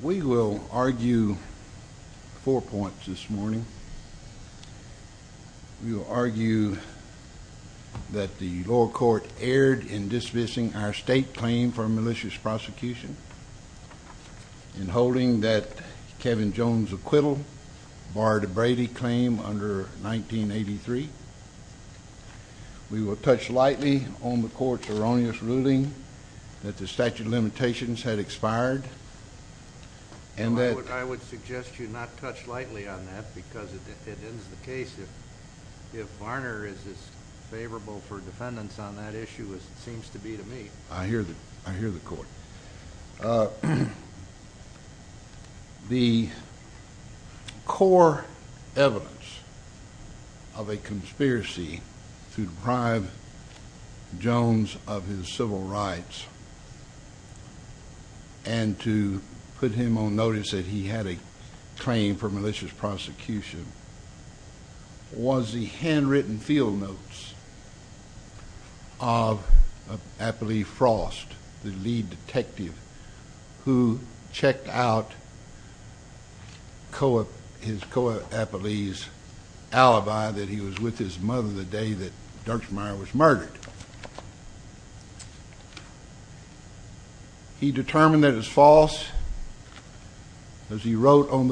We will argue four points this morning. We will argue that the lower court erred in dismissing our state claim for a malicious prosecution, in holding that Kevin Jones' acquittal bar to Brady claim under 1983. We will touch lightly on the court's erroneous ruling that the statute of limitations had expired and that… I would suggest you not touch lightly on that because it ends the case if Varner is as favorable for defendants on that issue as it seems to be to me. I hear the court. The core evidence of a conspiracy to deprive Jones of his civil rights and to put him on notice that he had a claim for malicious prosecution was the handwritten field notes of Apolli Frost, the lead detective, who checked out his co-Apolli's alibi that he was with his mother the day that Dutchmeyer was murdered. He determined that it was false as he and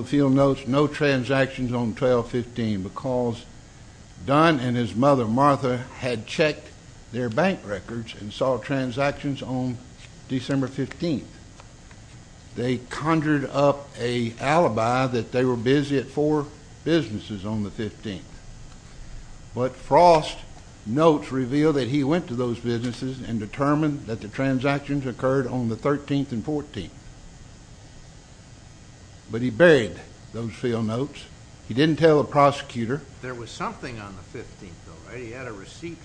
his mother, Martha, had checked their bank records and saw transactions on December 15th. They conjured up an alibi that they were busy at four businesses on the 15th, but Frost's notes revealed that he went to those businesses and determined that the transactions occurred on the 13th and 14th. But he buried those field notes. He didn't tell a prosecutor. There was something on the 15th, though, right? He had a receipt.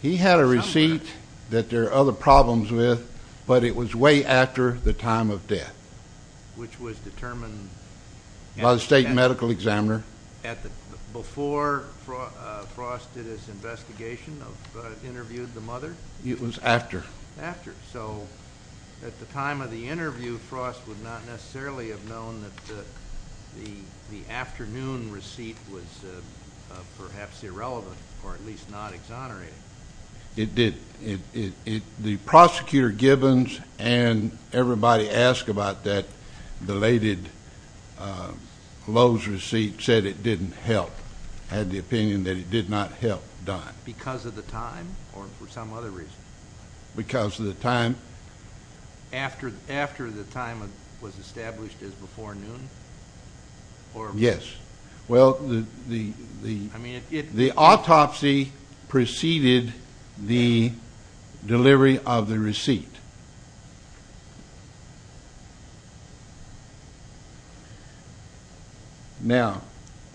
He had a receipt that there are other problems with, but it was way after the time of death. Which was determined… By the state medical examiner. Before Frost did his investigation of interviewing the mother? It was after. After. So, at the time of the interview, Frost would not necessarily have known that the afternoon receipt was perhaps irrelevant, or at least not exonerated. It didn't. The prosecutor, Gibbons, and everybody asked about that belated Lowe's receipt said it didn't help. Had the opinion that it did not help Don. Because of the time? Or for some other reason? Because of the time. After the time was established as before noon? Yes. Well, the autopsy preceded the delivery of the receipt. Now,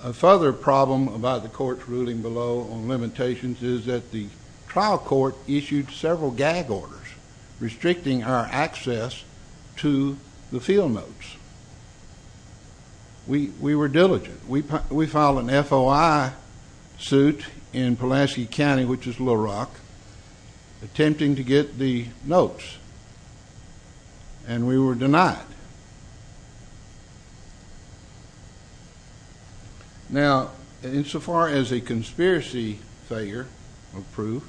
a further problem about the court's ruling below on limitations is that the trial court issued several gag orders restricting our access to the field notes. We were diligent. We filed an FOI suit in Pulaski County, which is Little Rock, attempting to get the notes. And we were denied. Now, insofar as a conspiracy figure will prove,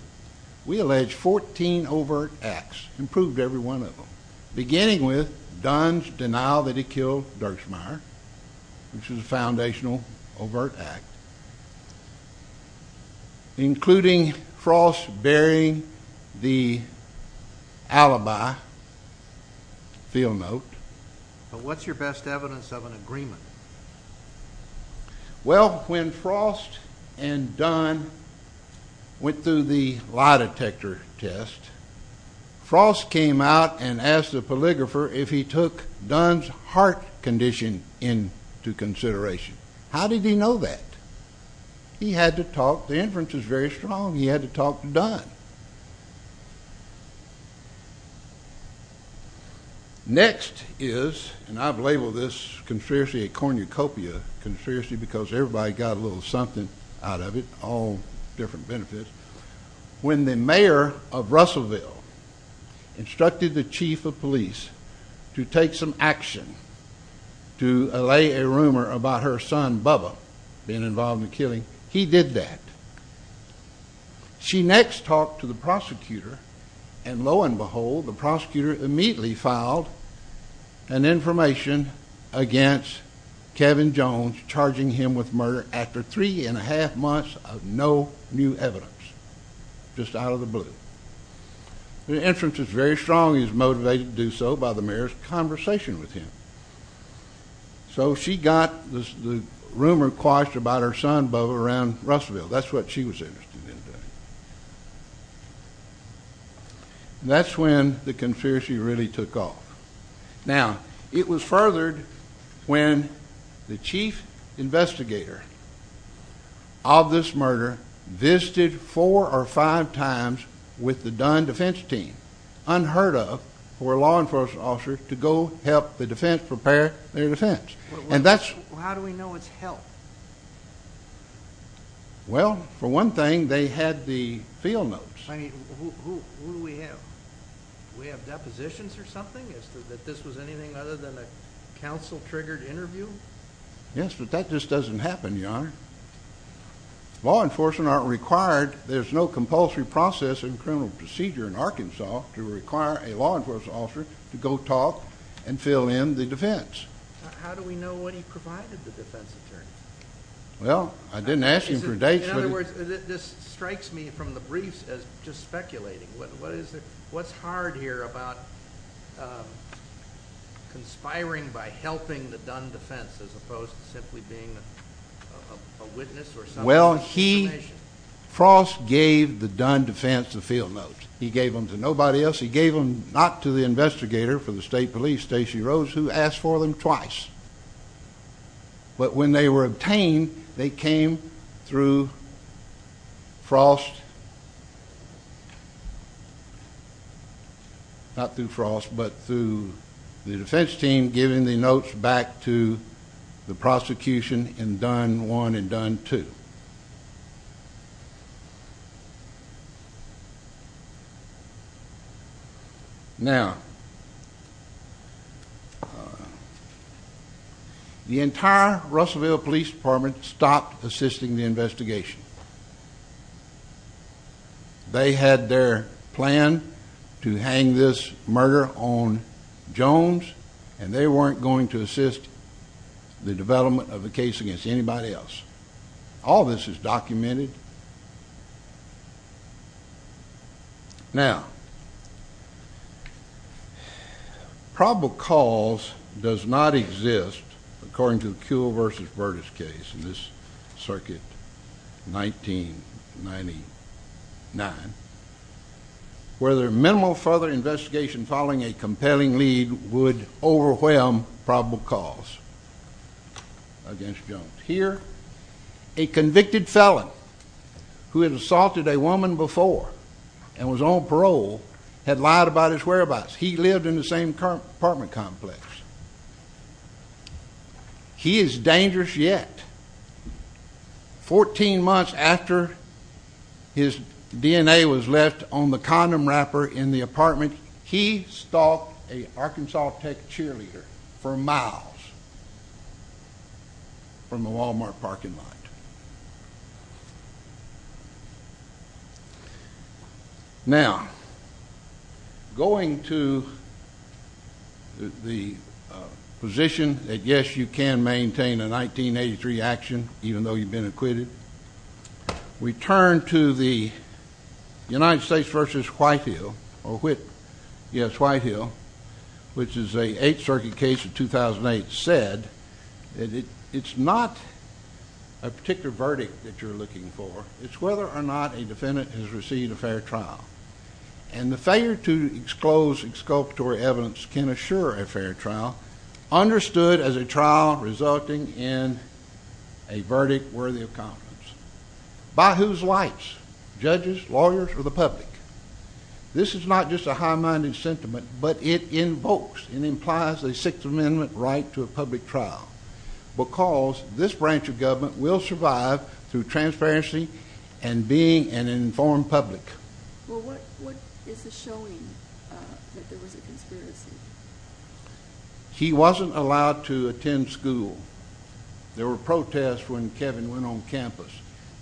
we allege 14 overt acts. Improved every one of them. Beginning with Don's denial that he killed Dirksmeyer, which is a foundational overt act. Including Frost burying the alibi field note. But what's your best evidence of an agreement? Well, when Frost and Dunn went through the lie detector test, Frost came out and asked the polygrapher if he took Dunn's heart condition into consideration. How did he know that? He had to talk. The inference is very strong. He had to talk to Dunn. Next is, and I've labeled this conspiracy a cornucopia conspiracy because everybody got a little something out of it. All different benefits. When the mayor of Russellville instructed the chief of police to take some action, to allay a rumor about her son Bubba being involved in the killing, he did that. She next talked to the prosecutor, and lo and behold, the prosecutor immediately filed an information against Kevin Jones, charging him with murder after three and a half months of no new evidence. Just out of the blue. The inference is very strong. He was motivated to do so by the mayor's conversation with him. So she got the rumor quashed about her son Bubba around Russellville. That's what she was interested in doing. That's when the conspiracy really took off. Now, it was furthered when the chief investigator of this murder visited four or five times with the Dunn defense team, unheard of for a law enforcement officer, to go help the defense prepare their defense. How do we know it's help? Well, for one thing, they had the field notes. Who do we have? Do we have depositions or something? Is this anything other than a council-triggered interview? Yes, but that just doesn't happen, Your Honor. Law enforcement aren't required. There's no compulsory process in criminal procedure in Arkansas to require a law enforcement officer to go talk and fill in the defense. How do we know when he provided the defense attorney? Well, I didn't ask him for dates. In other words, this strikes me from the briefs as just speculating. What's hard here about conspiring by helping the Dunn defense as opposed to simply being a witness or something? Well, Frost gave the Dunn defense the field notes. He gave them to nobody else. He gave them not to the investigator from the state police, Stacy Rose, who asked for them twice. But when they were obtained, they came through Frost. Not through Frost, but through the defense team giving the notes back to the prosecution in Dunn 1 and Dunn 2. Now, the entire Russellville Police Department stopped assisting the investigation. They had their plan to hang this murder on Jones and they weren't going to assist All of a sudden, this is documented. Now, probable cause does not exist according to the Kuehl v. Burtis case in this circuit, 1999, where their minimal further investigation following a compelling lead would overwhelm probable cause against Jones. Here, a convicted felon who had assaulted a woman before and was on parole had lied about his whereabouts. He lived in the same apartment complex. He is dangerous yet. 14 months after his DNA was left on the condom wrapper in the apartment, he stalked a Arkansas Tech cheerleader for miles from the Walmart parking lot. Now, going to the position that, yes, you can maintain a 1983 action even though you've been acquitted, we turn to the United States v. Whitehill or Whit, yes, Whitehill, which is a 8th Circuit case in 2008, said that it's not a particular verdict that you're looking for. It's whether or not a defendant has received a fair trial. And the failure to expose exculpatory evidence can assure a fair trial, understood as a trial resulting in a verdict worthy of confidence. By whose lights? Judges, lawyers, or the public? This is not just a high-minded sentiment, but it evokes and implies a 6th Amendment right to a public trial because this branch of government will survive through transparency and being an informed public. Well, what is this showing that there was a conspiracy? He wasn't allowed to attend school. There were protests when Kevin went on campus.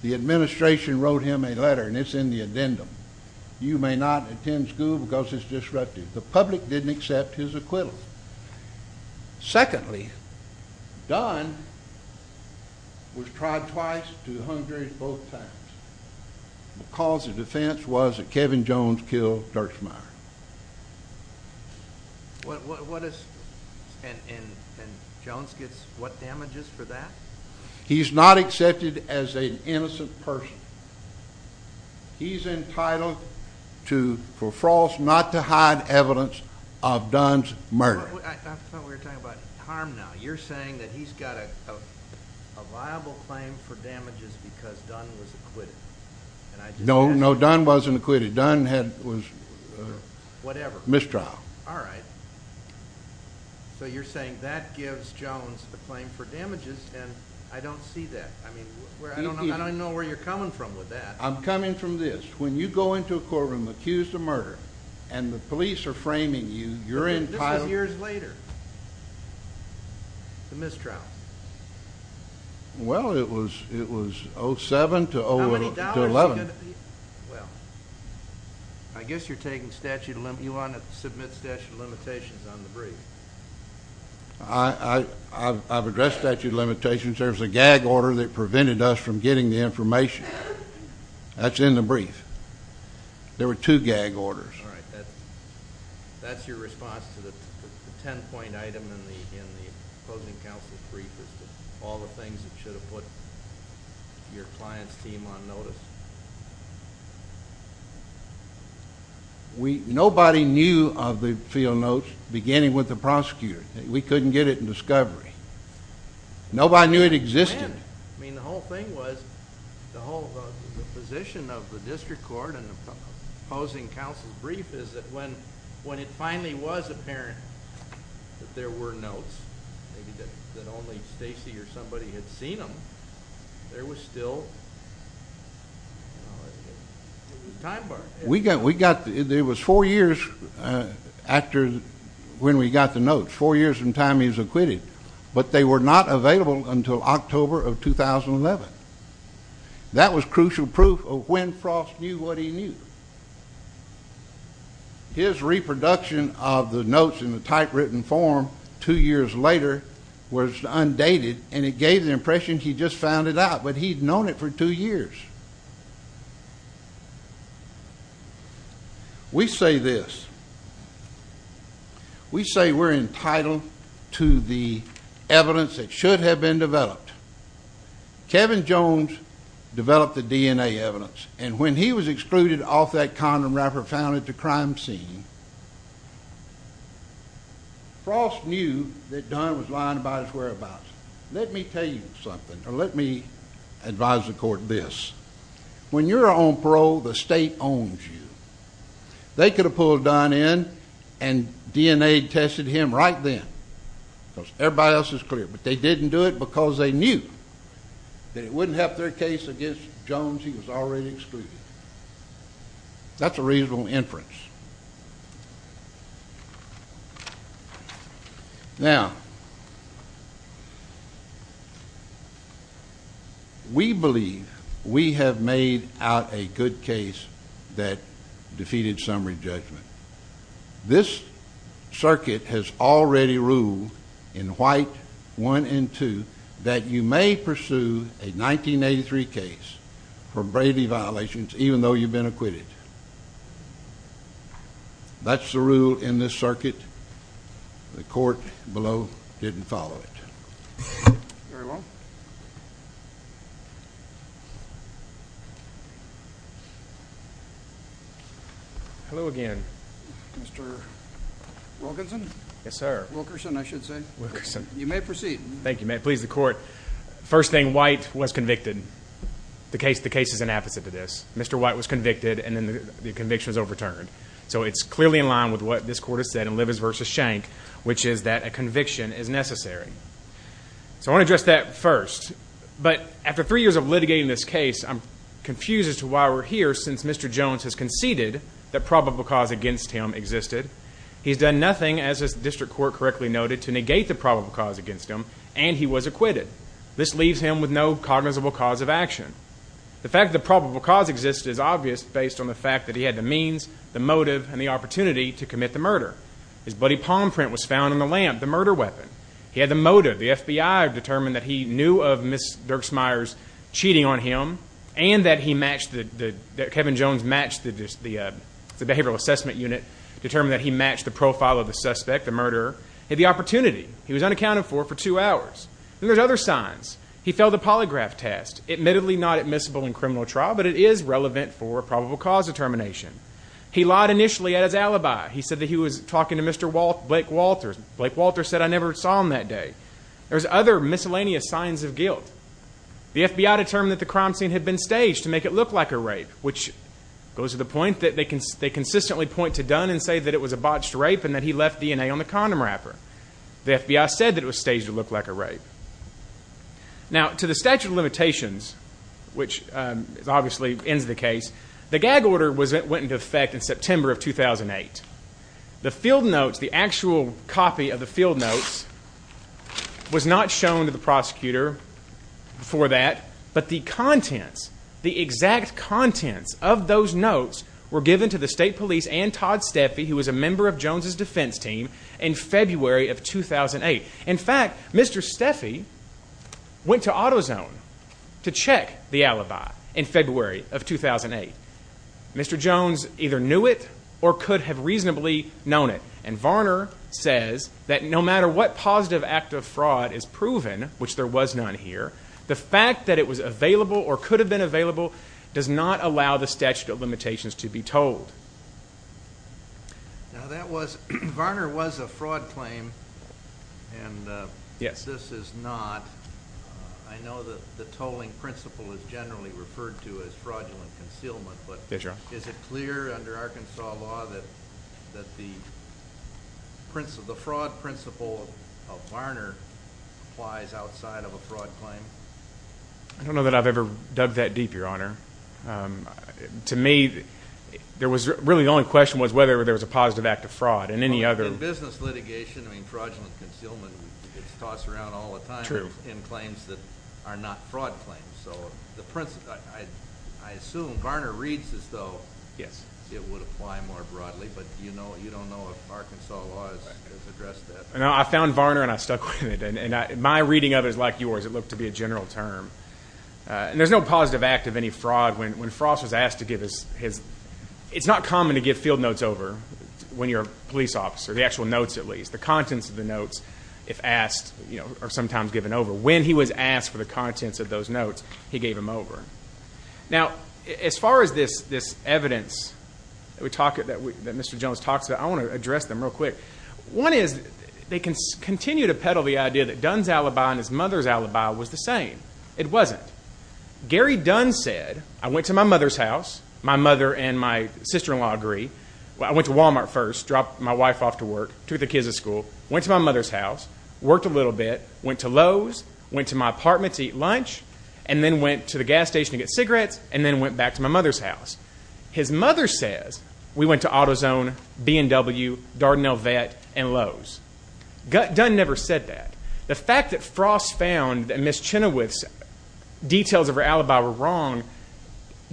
The administration wrote him a letter, and it's in the addendum. You may not attend school because it's disruptive. The public didn't accept his acquittal. Secondly, Dunn was tried twice, to the Hungarians, both times. The cause of defense was that Kevin Jones killed Durchmeyer. What is... and Jones gets what damages for that? He's not accepted as an innocent person. He's entitled for Frost not to hide evidence of Dunn's murder. You're saying that he's got a viable claim for damages because Dunn was acquitted. No, Dunn wasn't acquitted. Dunn had a mistrial. Alright. So you're saying that gives Jones a claim for damages, and I don't see that. I don't know where you're coming from with that. I'm coming from this. When you go into a courtroom, accused of murder, and the police are framing you, you're entitled... This was years later. The mistrial. Well, it was 07 to 11. Well, I guess you're taking statute of limit... you want to submit statute of limitations on the brief. I've addressed statute of limitations. There's a gag order that prevented us from getting the information. That's in the brief. There were two gag orders. That's your response to the 10-point item in the closing counsel's brief is all the things that should have put your client's team on notice? Nobody knew prosecutor. We couldn't get it in discovery. Nobody knew it existed. The whole thing was the position of the district court in the closing counsel's brief is that when it finally was apparent that there were notes that only Stacy or somebody had seen them, there was still a time bar. We got... It was four years when we got the notes. Four years from the time he was acquitted. But they were not available until October of 2011. That was crucial proof of when Frost knew what he knew. His reproduction of the notes in the typewritten form two years later was undated and it gave the impression he just found it out, but he'd known it for two years. We say this. We say we're entitled to the evidence that should have been developed. Kevin Jones developed the DNA evidence and when he was excluded off that condom wrapper found at the crime scene Frost knew that Dunn was lying about his whereabouts. Let me tell you something. Let me advise the court this. When you're on parole the state owns you. They could have pulled Dunn in and DNA tested him right then because everybody else is clear, but they didn't do it because they knew that it wouldn't help their case against Jones. He was already excluded. That's a reasonable inference. Now we believe we have made out a good case that defeated summary judgment. This circuit has already ruled in white one and two that you may pursue a 1983 case for Brady violations even though you've been acquitted. That's the rule in this circuit. The court below didn't follow it. Hello again. Mr. Wilkinson? Wilkerson, I should say. You may proceed. First thing, White was convicted. The case is an opposite to this. Mr. White was convicted and the conviction was overturned. It's clearly in line with what this court has said in Livers v. Schenck, which is that a conviction is necessary. I want to address that first. After three years of litigating this case I'm confused as to why we're here since Mr. Jones has conceded that probable cause against him existed. He's done nothing, as the district court correctly noted, to negate the probable cause against him and he was acquitted. This leaves him with no cognizable cause of action. The fact that the probable cause existed is obvious based on the fact that he had the means, the motive, and the opportunity to commit the murder. His bloody palm print was found on the lamp, the murder weapon. He had the motive. The FBI determined that he knew of Ms. Dierksmeyer's cheating on him and that Kevin Jones matched the behavioral assessment unit, determined that he matched the profile of the suspect, the murderer. He had the opportunity. He was unaccounted for for two hours. Then there's other signs. He failed the polygraph test. Admittedly not admissible in criminal trial but it is relevant for probable cause determination. He lied initially at his alibi. He said that he was talking to Mr. Blake Walters. Blake Walters said I never saw him that day. There's other miscellaneous signs of guilt. The FBI determined that the crime scene had been staged to make it look like a rape which goes to the point that they consistently point to Dunn and say that it was a botched rape and that he left DNA on the condom wrapper. The FBI said that it was staged to look like a rape. Now to the statute of limitations which obviously ends the case, the gag order went into effect in September of 2008. The field notes the actual copy of the field notes was not shown to the prosecutor for that but the contents the exact contents of those notes were given to the state police and Todd Steffi who was a member of Jones' defense team in February of 2008. In fact Mr. Steffi went to AutoZone to check the alibi in February of 2008. Mr. Jones either knew it or could have reasonably known it and Varner says that no matter what positive act of fraud is proven, which there was none here, the fact that it was available or could have been available does not allow the statute of limitations to be told. Now that was, Varner was a fraud claim and this is not. I know that the tolling principle is generally referred to as fraudulent concealment but is it clear under Arkansas law that the fraud principle of Varner applies outside of a fraud claim? I don't know that I've ever dug that deep your honor. To me, there was really the only question was whether there was a positive act of fraud and any other. In business litigation fraudulent concealment is tossed around all the time in claims that are not fraud claims. I assume Varner reads as though it would apply more broadly but you don't know if Arkansas law has addressed that. I found Varner and I stuck with it. My reading of it is like yours. It looked to be a general term. There's no positive act of any fraud. When Frost was asked to give his, it's not common to give field notes over when you're a police officer, the actual notes at least. The contents of the notes, if asked are sometimes given over. When he was asked for the contents of those notes he gave them over. As far as this evidence that Mr. Jones talks about I want to address them real quick. One is, they continue to peddle the idea that Dunn's alibi and his mother's alibi was the same. It wasn't. Gary Dunn said I went to my mother's house, my mother and my sister-in-law agree. I went to Walmart first, dropped my wife off to work took the kids to school, went to my mother's house worked a little bit, went to Lowe's, went to my apartment to eat lunch and then went to the gas station to get cigarettes and then went back to my mother's house. His mother says we went to AutoZone, B&W Darden El Vet and Lowe's. Dunn never said that. The fact that Frost found that Ms. Chenoweth's details of her alibi were wrong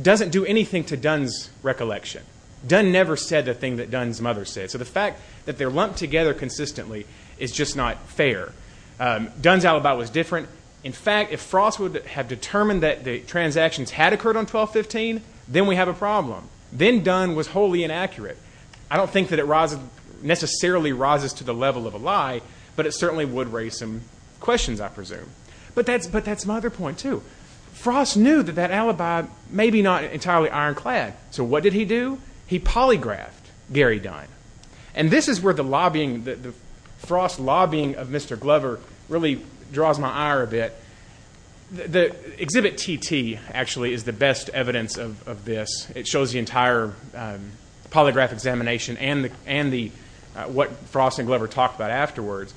doesn't do anything to Dunn's recollection. Dunn never said the thing that Dunn's mother said. So the fact that they're lumped together consistently is just not fair. Dunn's alibi was different. In fact, if Frost would have determined that the transactions had occurred on 12-15, then we have a problem. Then Dunn was wholly inaccurate. I don't think that it necessarily rises to the level of a lie, but it certainly would raise some questions, I presume. But that's my other point, too. Frost knew that that alibi may be not entirely ironclad. So what did he do? He polygraphed Gary Dunn. And this is where the lobbying, the Frost lobbying of Mr. Glover really draws my ire a bit. Exhibit TT, actually, is the best evidence of this. It shows the entire polygraph examination and what Frost and Glover talked about afterwards.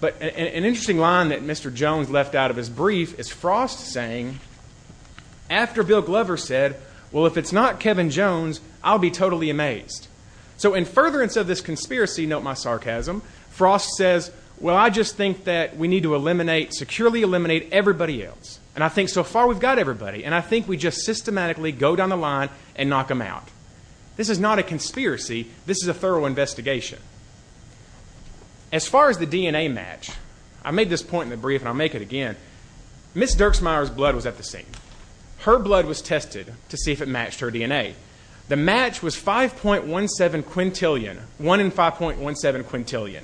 But an interesting line that Mr. Jones left out of his brief is Frost saying, after Bill Glover said, well, if it's not Kevin Jones, I'll be totally amazed. So in furtherance of this conspiracy, note my sarcasm, Frost says, well, I just think that we need to eliminate, securely eliminate everybody else. And I think so far we've got everybody. And I think we just systematically go down the line and knock them out. This is not a conspiracy. This is a thorough investigation. As far as the DNA match, I made this point in the brief, and I'll make it again. Miss Dierksmeyer's blood was at the scene. Her blood was tested to see if it matched her DNA. The match was 5.17 quintillion. 1 in 5.17 quintillion.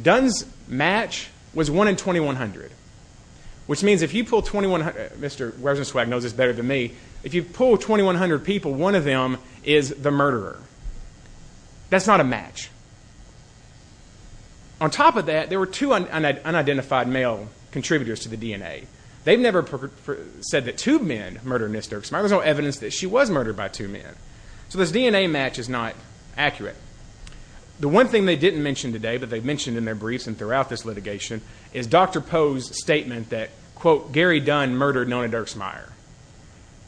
Dunn's match was 1 in 2,100. Which means if you pull 2,100, Mr. Weberson-Swagg knows this better than me, if you pull 2,100 people, one of them is the murderer. That's not a match. On top of that, there were two unidentified male contributors to the DNA. They've never said that two men murdered Miss Dierksmeyer. There's no evidence that she was murdered by two men. So this DNA match is not accurate. The one thing they didn't mention today, but they mentioned in their briefs and throughout this litigation, is Dr. Poe's statement that, quote, Gary Dunn murdered Nona Dierksmeyer.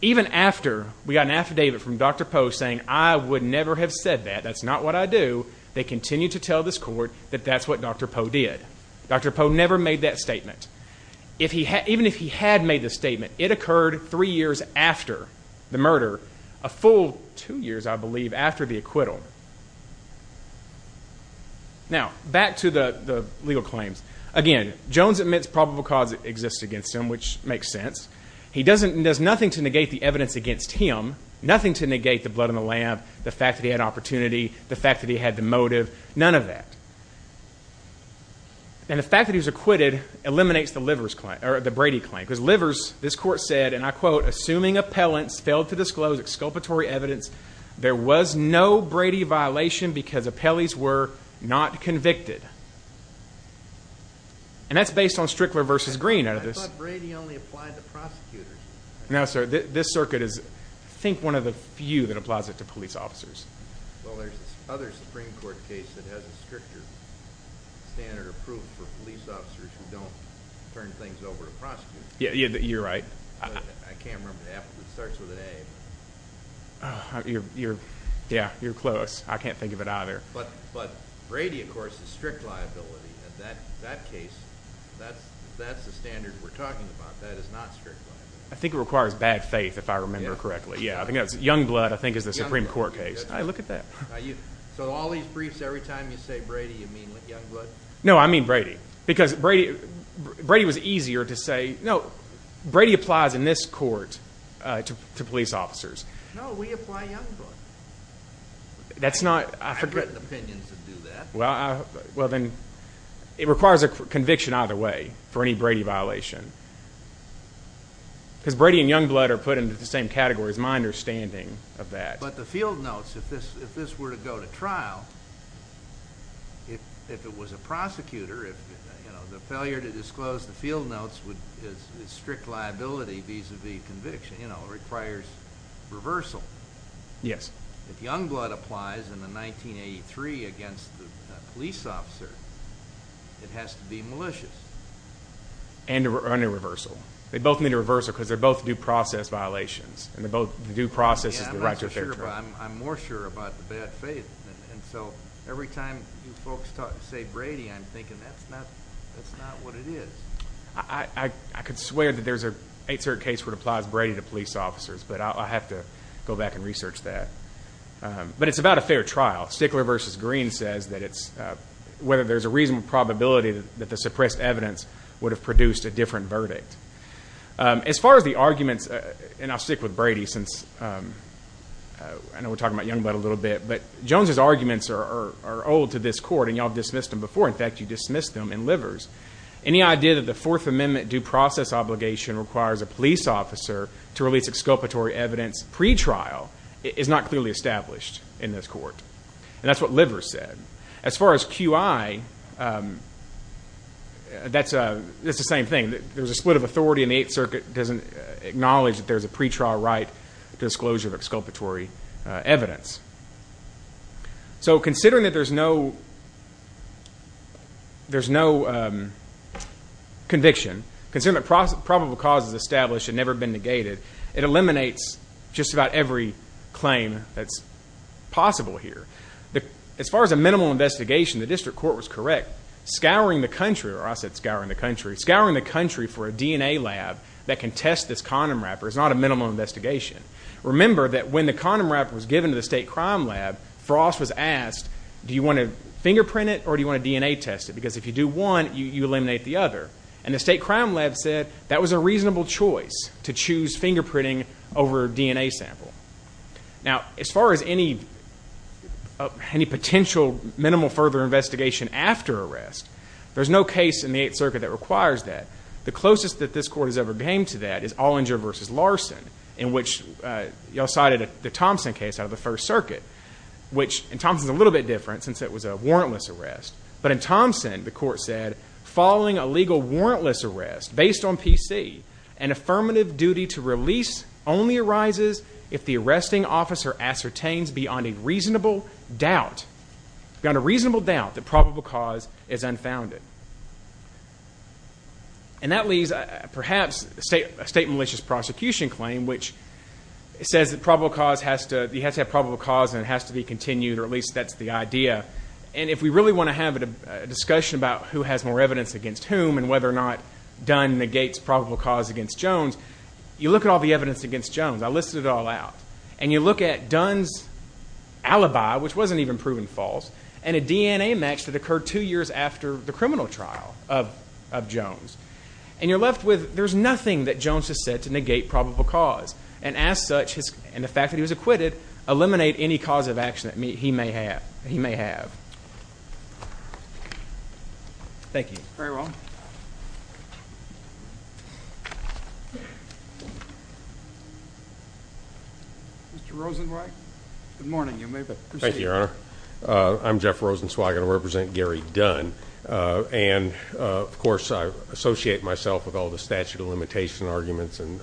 Even after we got an affidavit from Dr. Poe saying, I would never have said that. That's not what I do. They continue to tell this court that that's what Dr. Poe did. Dr. Poe never made that statement. Even if he had made the statement, it occurred three years after the murder. A full two years, I believe, after the acquittal. Now, back to the legal claims. Again, Jones admits probable cause exists against him, which makes sense. He does nothing to negate the evidence against him. Nothing to negate the blood on the lamp, the fact that he had opportunity, the fact that he had the motive. None of that. And the fact that he was acquitted eliminates the Brady claim, because this court said, and I quote, assuming appellants failed to there was no Brady violation because appellees were not convicted. And that's based on Strickler v. Green out of this. I thought Brady only applied to prosecutors. No, sir. This circuit is, I think, one of the few that applies it to police officers. Well, there's this other Supreme Court case that has a stricter standard approved for police officers who don't turn things over to prosecutors. Yeah, you're right. I can't remember the applicant. It starts with an A. Oh, you're close. I can't think of it either. But Brady, of course, is strict liability. That case, that's the standard we're talking about. That is not strict liability. I think it requires bad faith if I remember correctly. Yeah, I think that's Youngblood I think is the Supreme Court case. So all these briefs, every time you say Brady, you mean Youngblood? No, I mean Brady. Because Brady was easier to say, no, Brady applies in this case to police officers. No, we apply Youngblood. I've written opinions that do that. Well, then, it requires a conviction either way for any Brady violation. Because Brady and Youngblood are put into the same category is my understanding of that. But the field notes, if this were to go to trial, if it was a prosecutor, the failure to disclose the field notes is strict liability vis-a-vis conviction. It requires reversal. If Youngblood applies in the 1983 against the police officer, it has to be malicious. And a reversal. They both need a reversal because they're both due process violations. And the due process is the right to a fair trial. I'm not so sure, but I'm more sure about the bad faith. Every time you folks say Brady, I'm thinking that's not what it is. I could swear that there's an 8-cert case where it applies Brady to police officers, but I'll have to go back and research that. But it's about a fair trial. Stickler vs. Green says that it's whether there's a reasonable probability that the suppressed evidence would have produced a different verdict. As far as the arguments, and I'll stick with Brady since I know we're talking about Youngblood a little bit, but Jones' arguments are old to this court, and y'all dismissed them before. In fact, you dismissed them in Livers. Any idea that the Fourth Amendment due process obligation requires a police officer to release exculpatory evidence pre-trial is not clearly established in this court. And that's what Livers said. As far as QI, that's the same thing. There's a split of authority and the 8th Circuit doesn't acknowledge that there's a pre-trial right to disclosure of exculpatory evidence. So considering that there's no conviction, considering that probable causes established had never been negated, it eliminates just about every claim that's possible here. As far as a minimal investigation, the district court was correct. Scouring the country, or I said scouring the country, scouring the country for a DNA lab that can test this condom wrapper is not a minimal investigation. Remember that when the condom wrapper was given to the state crime lab, Frost was asked, do you want to fingerprint it or do you want you eliminate the other? And the state crime lab said that was a reasonable choice to choose fingerprinting over a DNA sample. Now, as far as any potential minimal further investigation after arrest, there's no case in the 8th Circuit that requires that. The closest that this court has ever came to that is Olinger v. Larson, in which y'all cited the Thompson case out of the 1st Circuit, which in Thompson's a little bit different since it was a warrantless arrest. But in Thompson, the court said, following a legal warrantless arrest based on PC, an affirmative duty to release only arises if the arresting officer ascertains beyond a reasonable doubt that probable cause is unfounded. And that leaves perhaps a state malicious prosecution claim, which says that you have to have probable cause and it has to be continued, or at least that's the idea. And if we really want to have a discussion about who has more evidence against whom and whether or not Dunn negates probable cause against Jones, you look at all the evidence against Jones. I listed it all out. And you look at Dunn's alibi, which wasn't even proven false, and a DNA match that occurred two years after the criminal trial of Jones. And you're left with, there's nothing that Jones has said to negate probable cause. And as such, and the fact that he was acquitted, eliminate any cause of action that he may have. He may have. Thank you. Very well. Mr. Rosenzweig? Good morning. You may proceed. Thank you, Your Honor. I'm Jeff Rosenzweig and I represent Gary Dunn. And, of course, I associate myself with all the statute of limitation arguments and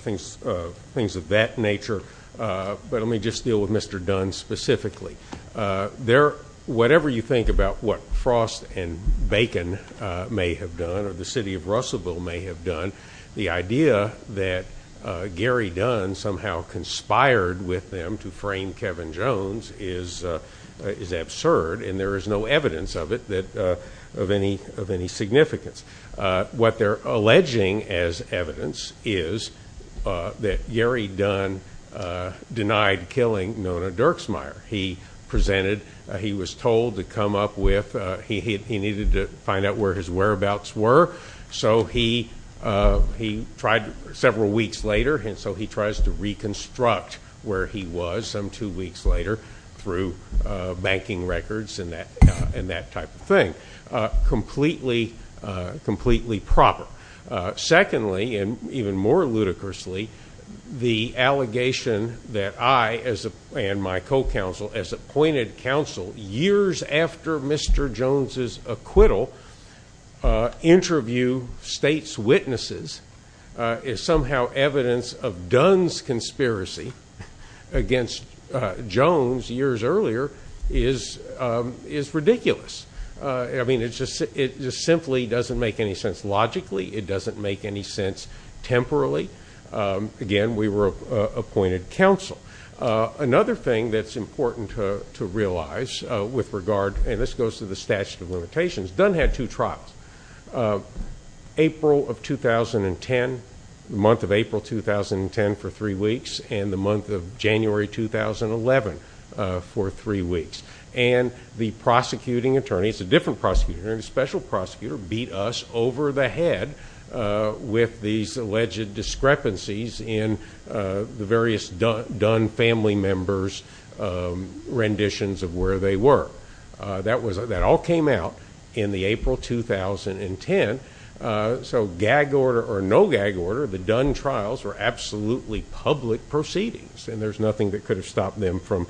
things of that nature, but I want to deal with Mr. Dunn specifically. Whatever you think about what Frost and Bacon may have done, or the city of Russellville may have done, the idea that Gary Dunn somehow conspired with them to frame Kevin Jones is absurd, and there is no evidence of it of any significance. What they're alleging as evidence is that Gary Dunn denied killing Nona Dirksmeyer. He presented he was told to come up with, he needed to find out where his whereabouts were, so he tried several weeks later, and so he tries to reconstruct where he was some two weeks later through banking records and that type of thing. Completely proper. Secondly, and even more ludicrously, the allegation that I and my co-counsel as appointed counsel years after Mr. Jones' acquittal interview state's witnesses is somehow evidence of Dunn's conspiracy against Jones years earlier is ridiculous. I mean, it just simply doesn't make any sense logically. It doesn't make any sense temporally. Again, we were appointed counsel. Another thing that's important to realize with regard and this goes to the statute of limitations Dunn had two trials. April of 2010 the month of April 2010 for three weeks and the month of January 2011 for three weeks. And the prosecuting attorney it's a different prosecutor, a special prosecutor beat us over the head with these alleged discrepancies in the various Dunn family members renditions of where they were. That all came out in the April 2010 so gag order or no gag order, the Dunn trials were absolutely public proceedings and there's nothing that could have stopped them from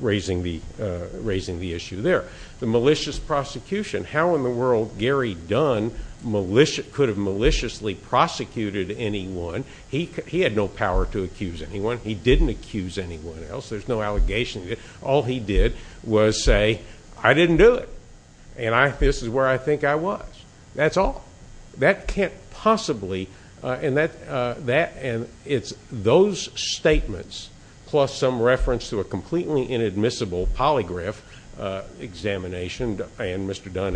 raising the issue there. The malicious prosecution how in the world Gary Dunn could have maliciously prosecuted anyone he had no power to accuse anyone he didn't accuse anyone else there's no allegation. All he did was say, I didn't do it and this is where I think I was. That's all. That can't possibly and it's those statements plus some reference to a completely inadmissible polygraph examination and Mr. Dunn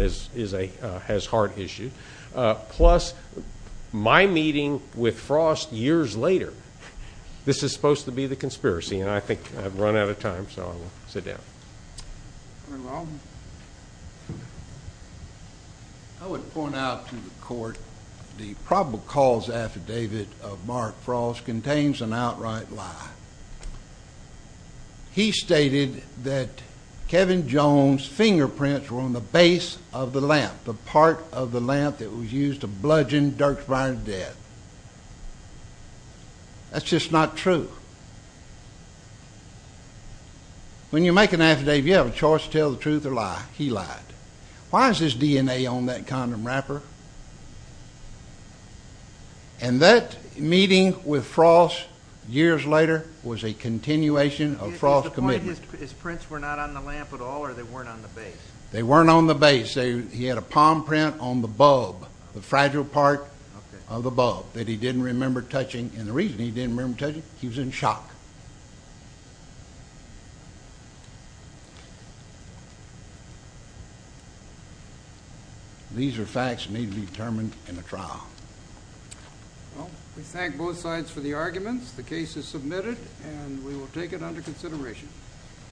has heart issues plus my meeting with Frost years later this is supposed to be the conspiracy and I think I've run out of time so I'll sit down. I would point out to the court the probable cause affidavit of Mark Frost contains an outright lie. He stated that Kevin Jones fingerprints were on the base of the lamp, the part of the lamp that was used to bludgeon Dierksbyron dead. That's just not true. When you make an affidavit you have a choice to tell the truth or lie. He lied. Why is his DNA on that condom wrapper? And that meeting with Frost years later was a continuation of Frost's commitment. His prints were not on the lamp at all or they weren't on the base? They weren't on the base. He had a palm print on the bulb, the fragile part of the bulb that he didn't remember touching and the reason he didn't remember touching it, he was in shock. These are facts that need to be determined in a trial. Well, we thank both sides for the arguments. The case is submitted and we will take it under consideration.